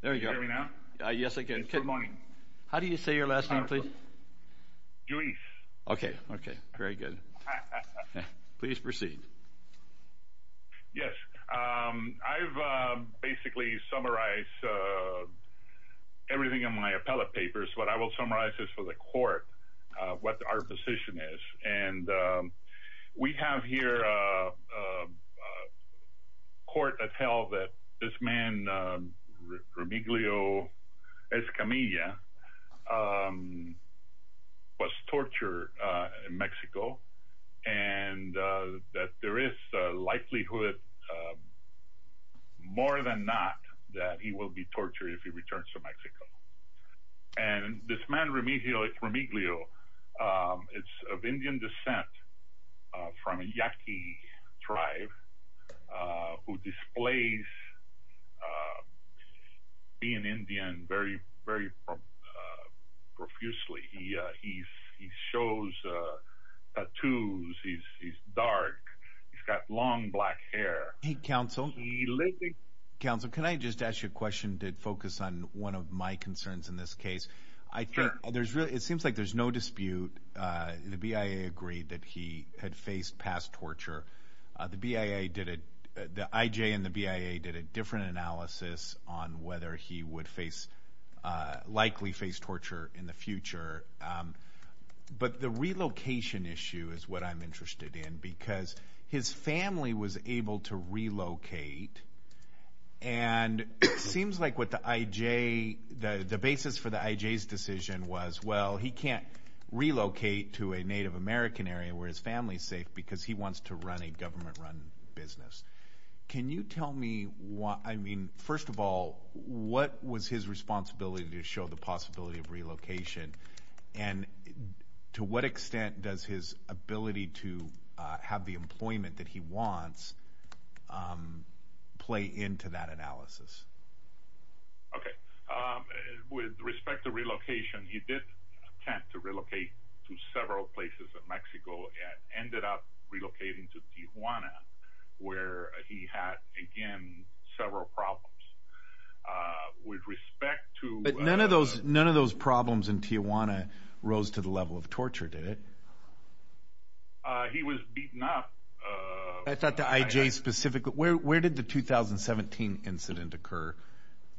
There we go. Can you hear me now? Yes, I can. Good morning. How do you say your last name, please? Luis. Okay, okay, very good. Please proceed. Yes, I've basically summarized everything in my appellate papers, but I will summarize this for the court, what our position is. And we have here a court that tell that this man, Remigio Escamilla, was tortured in Mexico, and that there is a likelihood, more than not, that he will be tortured if he returns to Mexico. And this man, Remigio, it's of Indian descent, from a Yaqui tribe, who displays being Indian very, very profusely. He shows tattoos, he's dark, he's got long black hair. Hey, counsel. Counsel, can I just ask you a question to focus on one of my concerns in this case? I think there's really, it seems like there's no dispute. The BIA agreed that he had faced past torture. The BIA did it, the IJ and the BIA did a different analysis on whether he would face, likely face torture in the future. But the relocation issue is what I'm interested in, because his family was able to relocate, and it seems like what the IJ, the basis for the IJ's decision was, well, he can't relocate to a Native American area where his family's safe, because he wants to run a government-run business. Can you tell me, I mean, first of all, what was his responsibility to show the possibility of relocation? And to what extent does his ability to have the employment that he wants play into that analysis? Okay. With respect to relocation, he did attempt to relocate to several places in Mexico, and ended up relocating to Tijuana, where he had, again, several problems. With respect to... But none of those problems in Tijuana rose to the level of torture, did it? He was beaten up. I thought the IJ specifically, where did the 2017 incident occur?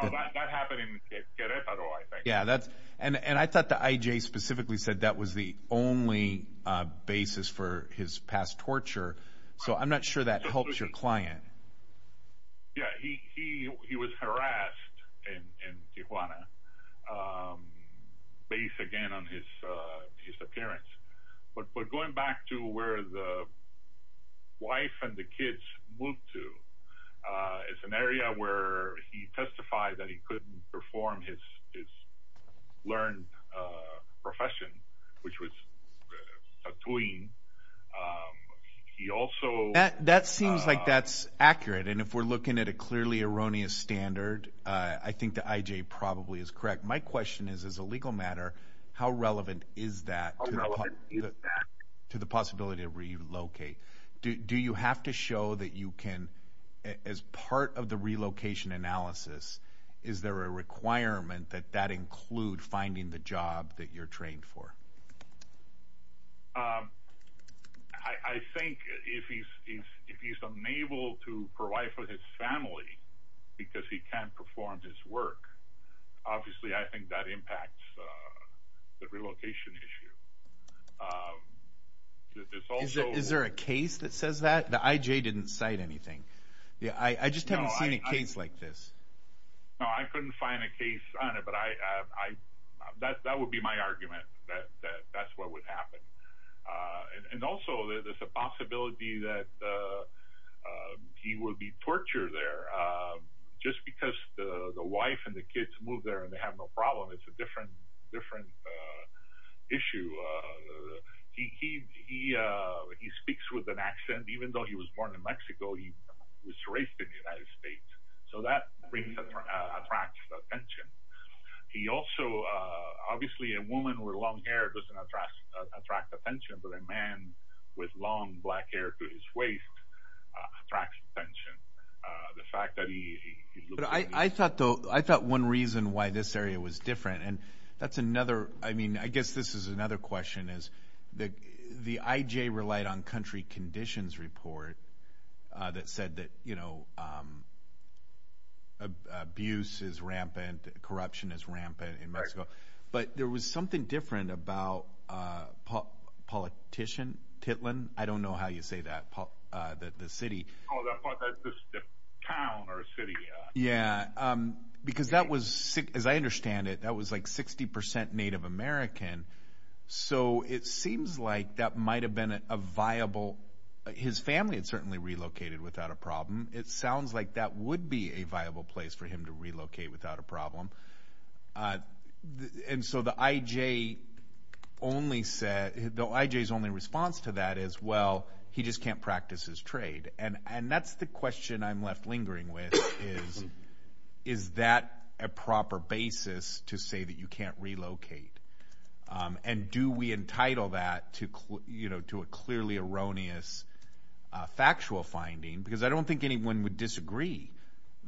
That happened in Queretaro, I think. Yeah, and I thought the IJ specifically said that was the only basis for his past torture, so I'm not sure that helps your client. Yeah, he was harassed in Tijuana, based, again, on his appearance. But going back to where the wife and the kids moved to, it's an area where he testified that he couldn't perform his learned profession, which was tattooing. He also... That seems like that's accurate, and if we're looking at a clearly erroneous standard, I think the IJ probably is correct. My question is, as a legal matter, how relevant is that to the possibility of relocate? Do you have to show that you can, as part of the relocation analysis, is there a requirement that that include finding the job that you're trained for? I think if he's unable to provide for his family because he can't perform his work, obviously I think that impacts the relocation issue. Is there a case that says that? The IJ didn't cite anything. I just haven't seen a case like this. No, I couldn't find a case on it, but that would be my argument, that that's what would happen. And also, there's a possibility that he will be tortured there. Just because the wife and the kids moved there and they have no problem, it's a different issue. He speaks with an accent, even though he was born in Mexico, he was raised in the United States, so that attracts attention. He also, obviously a woman with long hair doesn't attract attention, but a man with long black hair to his waist attracts attention. I thought one reason why this area was different, and that's another, I mean, I guess this is another question, is the IJ relied on country conditions report that said that, you know, abuse is rampant, corruption is rampant in Mexico, but there was something different about politician Titlan, I don't know how you say that, the city. Oh, the town or city. Yeah, because that was, as I understand it, that was like 60% Native American, so it seems like that might have been a viable, his family had certainly relocated without a problem. It sounds like that would be a viable place for him to relocate without a problem. And so the IJ only said, the IJ's only response to that is, well, he just can't practice his trade. And that's the question I'm left lingering with is, is that a proper basis to say that you can't relocate? And do we entitle that to a clearly erroneous factual finding? Because I don't think anyone would disagree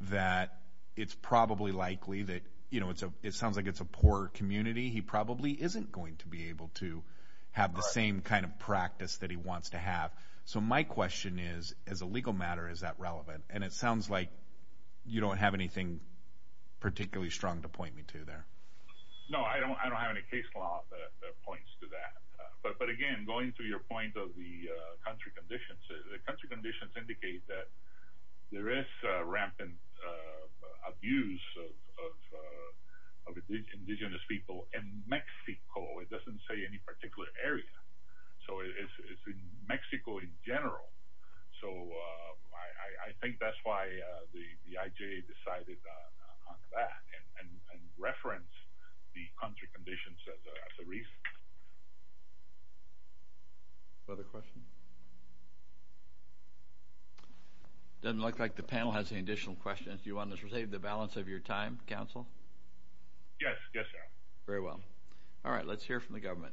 that it's probably likely that, you know, it sounds like it's a poor community, he probably isn't going to be able to have the same kind of practice that he wants to have. So my question is, as a legal matter, is that relevant? And it sounds like you don't have anything particularly strong to point me to there. No, I don't have any case law that points to that. But again, going to your point of the country conditions, the country conditions indicate that there is rampant abuse of indigenous people in Mexico. It doesn't say any particular area. So it's in Mexico in general. So I think that's why the IJ decided on that and referenced the country conditions as a reason. Other questions? Doesn't look like the panel has any additional questions. Do you want to save the balance of your time, counsel? Yes, yes, I am. Very well. All right, let's hear from the government.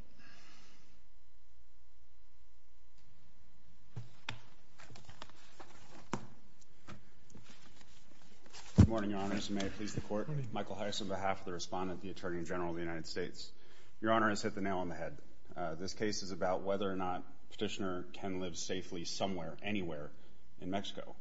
Good morning, Your Honor. May it please the Court. Michael Heiss on behalf of the Respondent, the Attorney General of the United States. Your Honor has hit the nail on the head. This case is about whether or not Petitioner can live safely somewhere, anywhere in Mexico.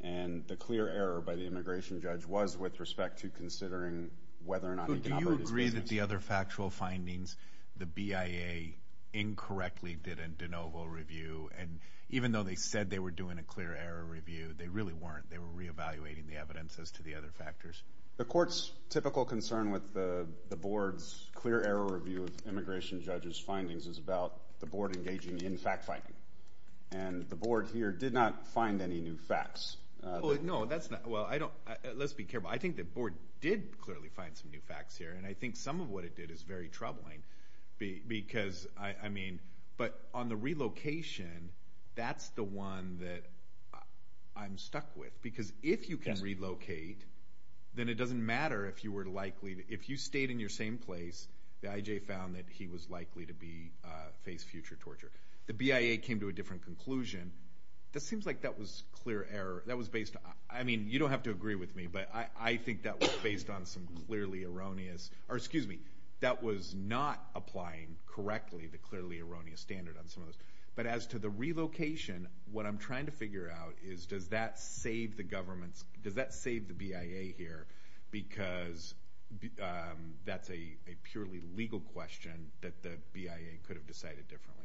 And the clear error by the immigration judge was with respect to considering whether or not he can operate his business. I agree that the other factual findings, the BIA incorrectly did a de novo review. And even though they said they were doing a clear error review, they really weren't. They were reevaluating the evidence as to the other factors. The Court's typical concern with the Board's clear error review of immigration judges' findings is about the Board engaging in fact-finding. And the Board here did not find any new facts. No, that's not – well, I don't – let's be careful. I think the Board did clearly find some new facts here. And I think some of what it did is very troubling because, I mean – but on the relocation, that's the one that I'm stuck with. Because if you can relocate, then it doesn't matter if you were likely – if you stayed in your same place, the IJ found that he was likely to be – face future torture. The BIA came to a different conclusion. It seems like that was clear error. That was based – I mean, you don't have to agree with me, but I think that was based on some clearly erroneous – or, excuse me, that was not applying correctly the clearly erroneous standard on some of those. But as to the relocation, what I'm trying to figure out is, does that save the government's – does that save the BIA here? Because that's a purely legal question that the BIA could have decided differently.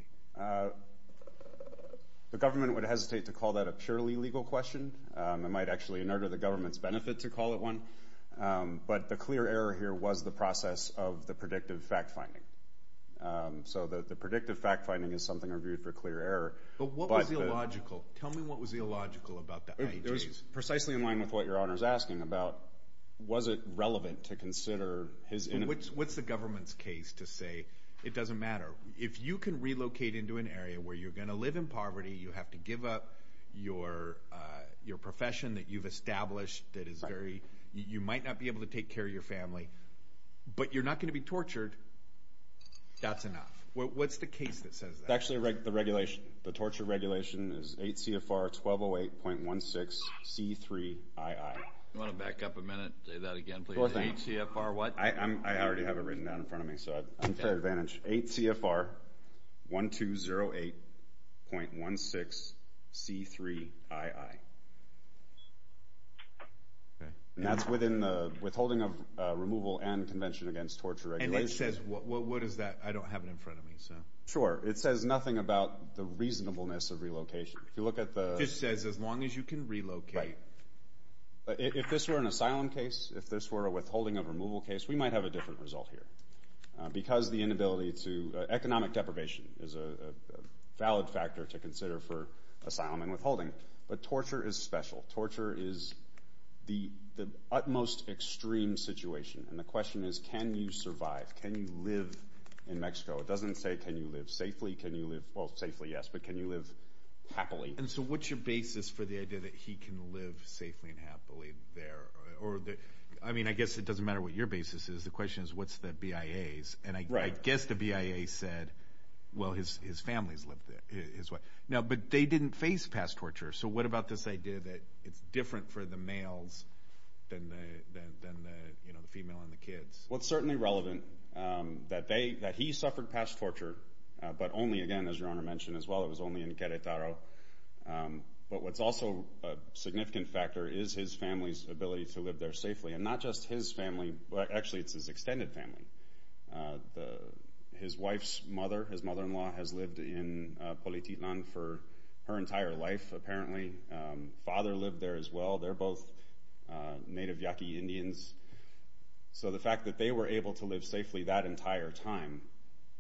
The government would hesitate to call that a purely legal question. It might actually inert the government's benefit to call it one. But the clear error here was the process of the predictive fact-finding. So the predictive fact-finding is something reviewed for clear error. But what was the illogical – tell me what was illogical about the IJs. It was precisely in line with what your Honor is asking about, was it relevant to consider his – What's the government's case to say it doesn't matter? If you can relocate into an area where you're going to live in poverty, you have to give up your profession that you've established that is very – you might not be able to take care of your family, but you're not going to be tortured, that's enough. What's the case that says that? It's actually the regulation. The torture regulation is 8 CFR 1208.16 C3II. Do you want to back up a minute and say that again, please? Sure thing. 8 CFR what? I already have it written down in front of me, so I'm at fair advantage. 8 CFR 1208.16 C3II. Okay. And that's within the withholding of removal and convention against torture regulation. And it says – what is that? I don't have it in front of me, so. Sure. It says nothing about the reasonableness of relocation. If you look at the – It just says as long as you can relocate. Right. If this were an asylum case, if this were a withholding of removal case, we might have a different result here because the inability to – economic deprivation is a valid factor to consider for asylum and withholding. But torture is special. Torture is the utmost extreme situation. And the question is can you survive? Can you live in Mexico? It doesn't say can you live safely. Can you live – well, safely, yes, but can you live happily? And so what's your basis for the idea that he can live safely and happily there? I mean, I guess it doesn't matter what your basis is. The question is what's the BIA's? And I guess the BIA said, well, his family's lived there. Now, but they didn't face past torture. So what about this idea that it's different for the males than the female and the kids? Well, it's certainly relevant that they – that he suffered past torture, but only, again, as Your Honor mentioned as well, it was only in Querétaro. But what's also a significant factor is his family's ability to live there safely. And not just his family – well, actually, it's his extended family. His wife's mother, his mother-in-law, has lived in Polititlan for her entire life apparently. Father lived there as well. They're both native Yaqui Indians. So the fact that they were able to live safely that entire time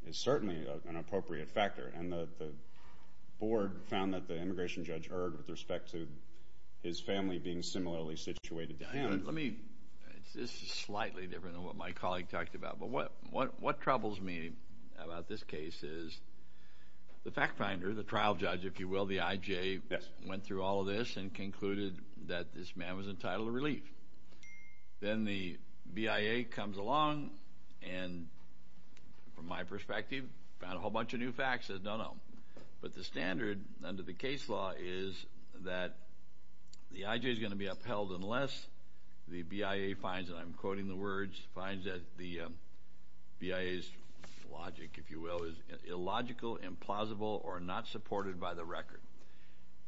is certainly an appropriate factor. And the board found that the immigration judge erred with respect to his family being similarly situated to him. Let me – this is slightly different than what my colleague talked about. But what troubles me about this case is the fact finder, the trial judge, if you will, the IJ, went through all of this and concluded that this man was entitled to relief. Then the BIA comes along and, from my perspective, found a whole bunch of new facts, says no, no. But the standard under the case law is that the IJ is going to be upheld unless the BIA finds – and I'm quoting the words – finds that the BIA's logic, if you will, is illogical, implausible, or not supported by the record.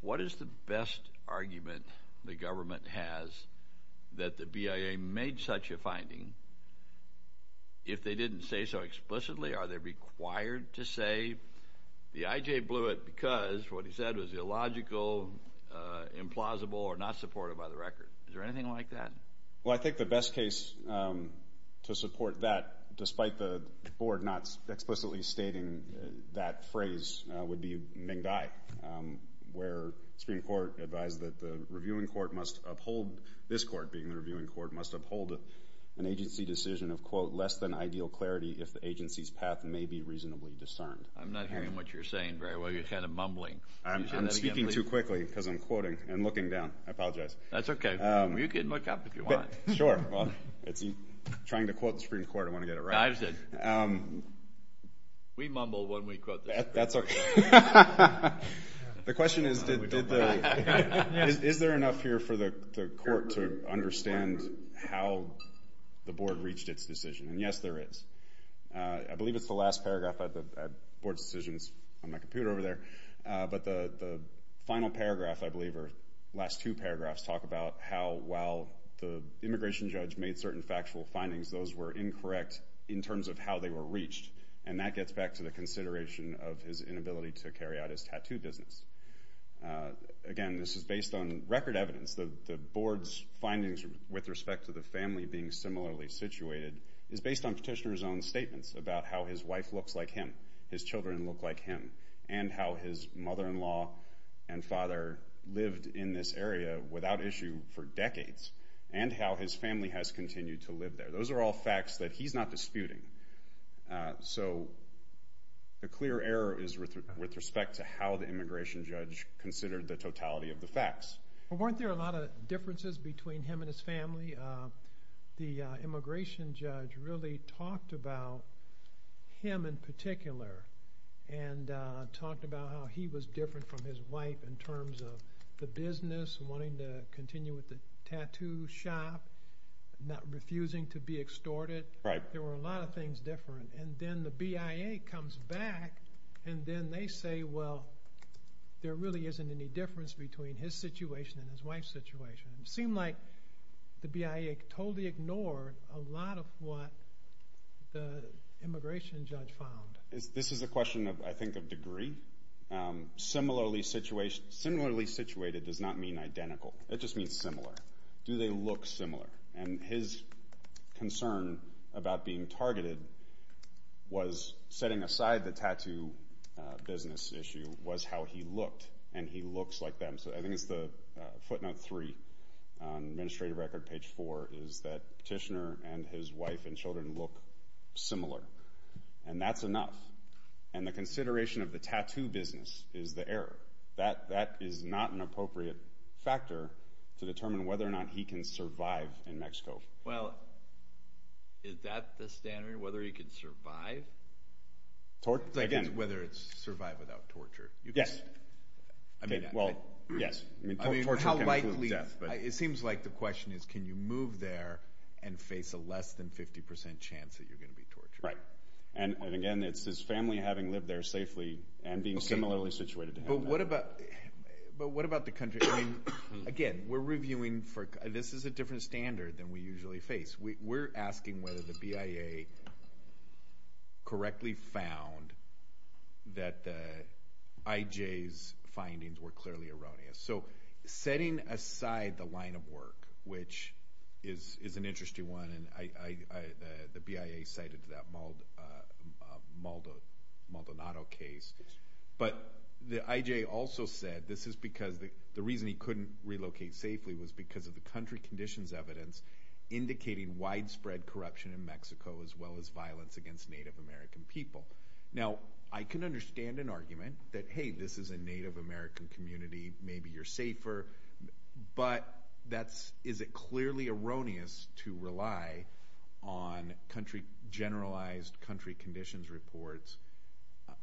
What is the best argument the government has that the BIA made such a finding? If they didn't say so explicitly, are they required to say the IJ blew it because what he said was illogical, implausible, or not supported by the record? Is there anything like that? Well, I think the best case to support that, despite the board not explicitly stating that phrase, would be Meng Dai, where Supreme Court advised that the reviewing court must uphold – less than ideal clarity if the agency's path may be reasonably discerned. I'm not hearing what you're saying very well. You're kind of mumbling. I'm speaking too quickly because I'm quoting and looking down. I apologize. That's okay. You can look up if you want. Sure. Well, I'm trying to quote the Supreme Court. I want to get it right. Dives in. We mumble when we quote the Supreme Court. That's okay. The question is, is there enough here for the court to understand how the board reached its decision? And, yes, there is. I believe it's the last paragraph of the board's decisions on my computer over there. But the final paragraph, I believe, or last two paragraphs, talk about how, while the immigration judge made certain factual findings, those were incorrect in terms of how they were reached. And that gets back to the consideration of his inability to carry out his tattoo business. Again, this is based on record evidence. The board's findings with respect to the family being similarly situated is based on petitioner's own statements about how his wife looks like him, his children look like him, and how his mother-in-law and father lived in this area without issue for decades, and how his family has continued to live there. Those are all facts that he's not disputing. So a clear error is with respect to how the immigration judge considered the totality of the facts. Weren't there a lot of differences between him and his family? The immigration judge really talked about him in particular and talked about how he was different from his wife in terms of the business, wanting to continue with the tattoo shop, not refusing to be extorted. There were a lot of things different. And then the BIA comes back and then they say, well, there really isn't any difference between his situation and his wife's situation. It seemed like the BIA totally ignored a lot of what the immigration judge found. This is a question, I think, of degree. Similarly situated does not mean identical. It just means similar. Do they look similar? And his concern about being targeted was setting aside the tattoo business issue was how he looked, and he looks like them. So I think it's the footnote three on administrative record page four is that Petitioner and his wife and children look similar. And that's enough. And the consideration of the tattoo business is the error. That is not an appropriate factor to determine whether or not he can survive in Mexico. Well, is that the standard, whether he can survive? Again. Whether it's survive without torture. Yes. Well, yes. Torture can include death. It seems like the question is can you move there and face a less than 50 percent chance that you're going to be tortured? Right. And, again, it's his family having lived there safely and being similarly situated to him. But what about the country? I mean, again, we're reviewing for this is a different standard than we usually face. We're asking whether the BIA correctly found that I.J.'s findings were clearly erroneous. So setting aside the line of work, which is an interesting one, and the BIA cited that Maldonado case. But the I.J. also said this is because the reason he couldn't relocate safely was because of the country conditions evidence indicating widespread corruption in Mexico as well as violence against Native American people. Now, I can understand an argument that, hey, this is a Native American community. Maybe you're safer. But is it clearly erroneous to rely on country generalized country conditions reports?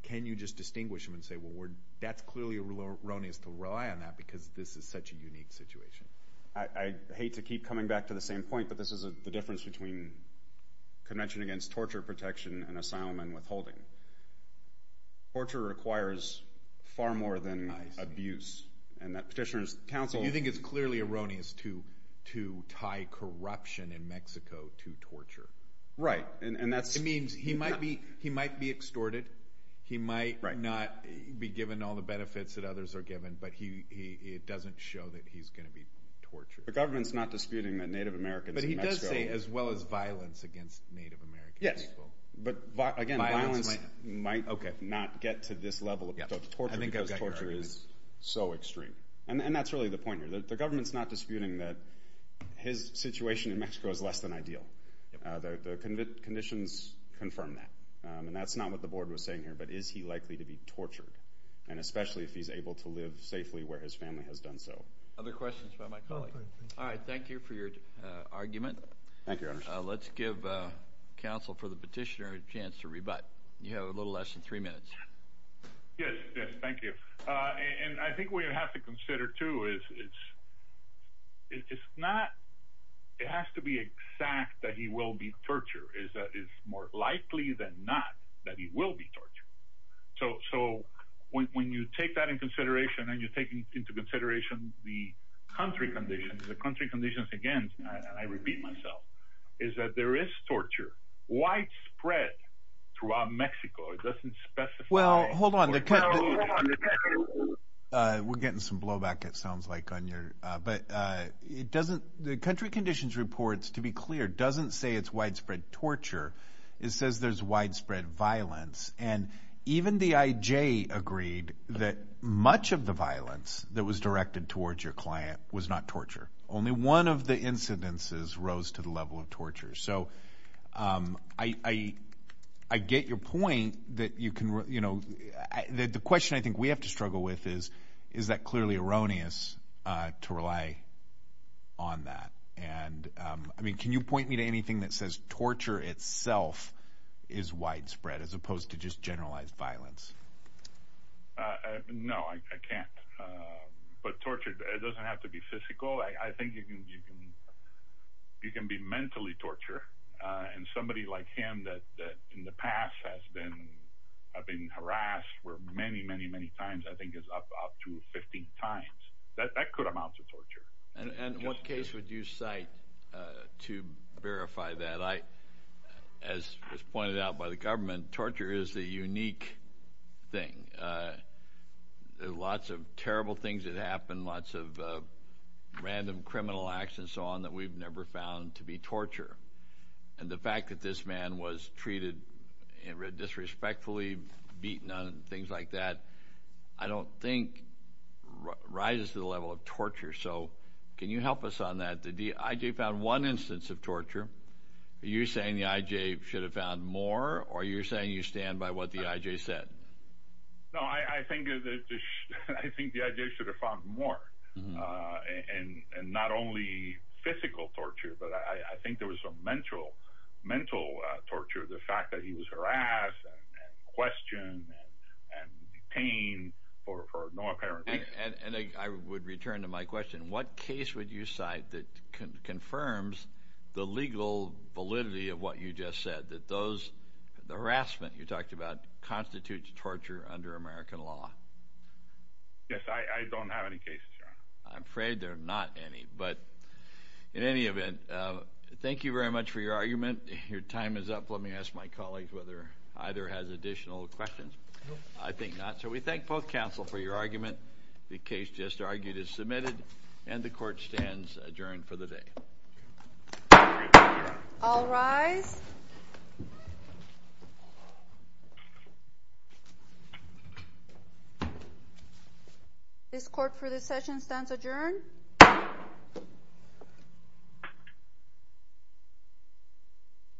Can you just distinguish them and say, well, that's clearly erroneous to rely on that because this is such a unique situation? I hate to keep coming back to the same point, but this is the difference between Convention Against Torture Protection and asylum and withholding. Torture requires far more than abuse. You think it's clearly erroneous to tie corruption in Mexico to torture? Right. It means he might be extorted. He might not be given all the benefits that others are given, but it doesn't show that he's going to be tortured. The government's not disputing that Native Americans in Mexico. But he does say as well as violence against Native American people. Yes. But, again, violence might not get to this level of torture because torture is so extreme. And that's really the point here. The government's not disputing that his situation in Mexico is less than ideal. The conditions confirm that. And that's not what the board was saying here. But is he likely to be tortured, and especially if he's able to live safely where his family has done so? Other questions from my colleague? All right. Thank you for your argument. Thank you, Your Honor. Let's give counsel for the petitioner a chance to rebut. You have a little less than three minutes. Yes, thank you. And I think what you have to consider, too, is it's not – it has to be exact that he will be tortured. It's more likely than not that he will be tortured. So when you take that into consideration and you take into consideration the country conditions, the country conditions, again, and I repeat myself, is that there is torture widespread throughout Mexico. Well, hold on. We're getting some blowback, it sounds like, on your – but it doesn't – the country conditions report, to be clear, doesn't say it's widespread torture. It says there's widespread violence. And even the IJ agreed that much of the violence that was directed towards your client was not torture. Only one of the incidences rose to the level of torture. So I get your point that you can – the question I think we have to struggle with is, is that clearly erroneous to rely on that? And, I mean, can you point me to anything that says torture itself is widespread as opposed to just generalized violence? No, I can't. But torture doesn't have to be physical. I think you can be mentally torture. And somebody like him that in the past has been harassed many, many, many times, I think is up to 15 times. That could amount to torture. And what case would you cite to verify that? As was pointed out by the government, torture is a unique thing. There are lots of terrible things that happen, lots of random criminal acts and so on that we've never found to be torture. And the fact that this man was treated disrespectfully, beaten, things like that, I don't think rises to the level of torture. So can you help us on that? The IJ found one instance of torture. Are you saying the IJ should have found more, or are you saying you stand by what the IJ said? No, I think the IJ should have found more, and not only physical torture, but I think there was some mental torture, the fact that he was harassed and questioned and detained for no apparent reason. And I would return to my question. What case would you cite that confirms the legal validity of what you just said, that the harassment you talked about constitutes torture under American law? Yes, I don't have any cases, Your Honor. I'm afraid there are not any. But in any event, thank you very much for your argument. Your time is up. Let me ask my colleagues whether either has additional questions. I think not. So we thank both counsel for your argument. The case just argued is submitted, and the Court stands adjourned for the day. All rise. This Court for this session stands adjourned.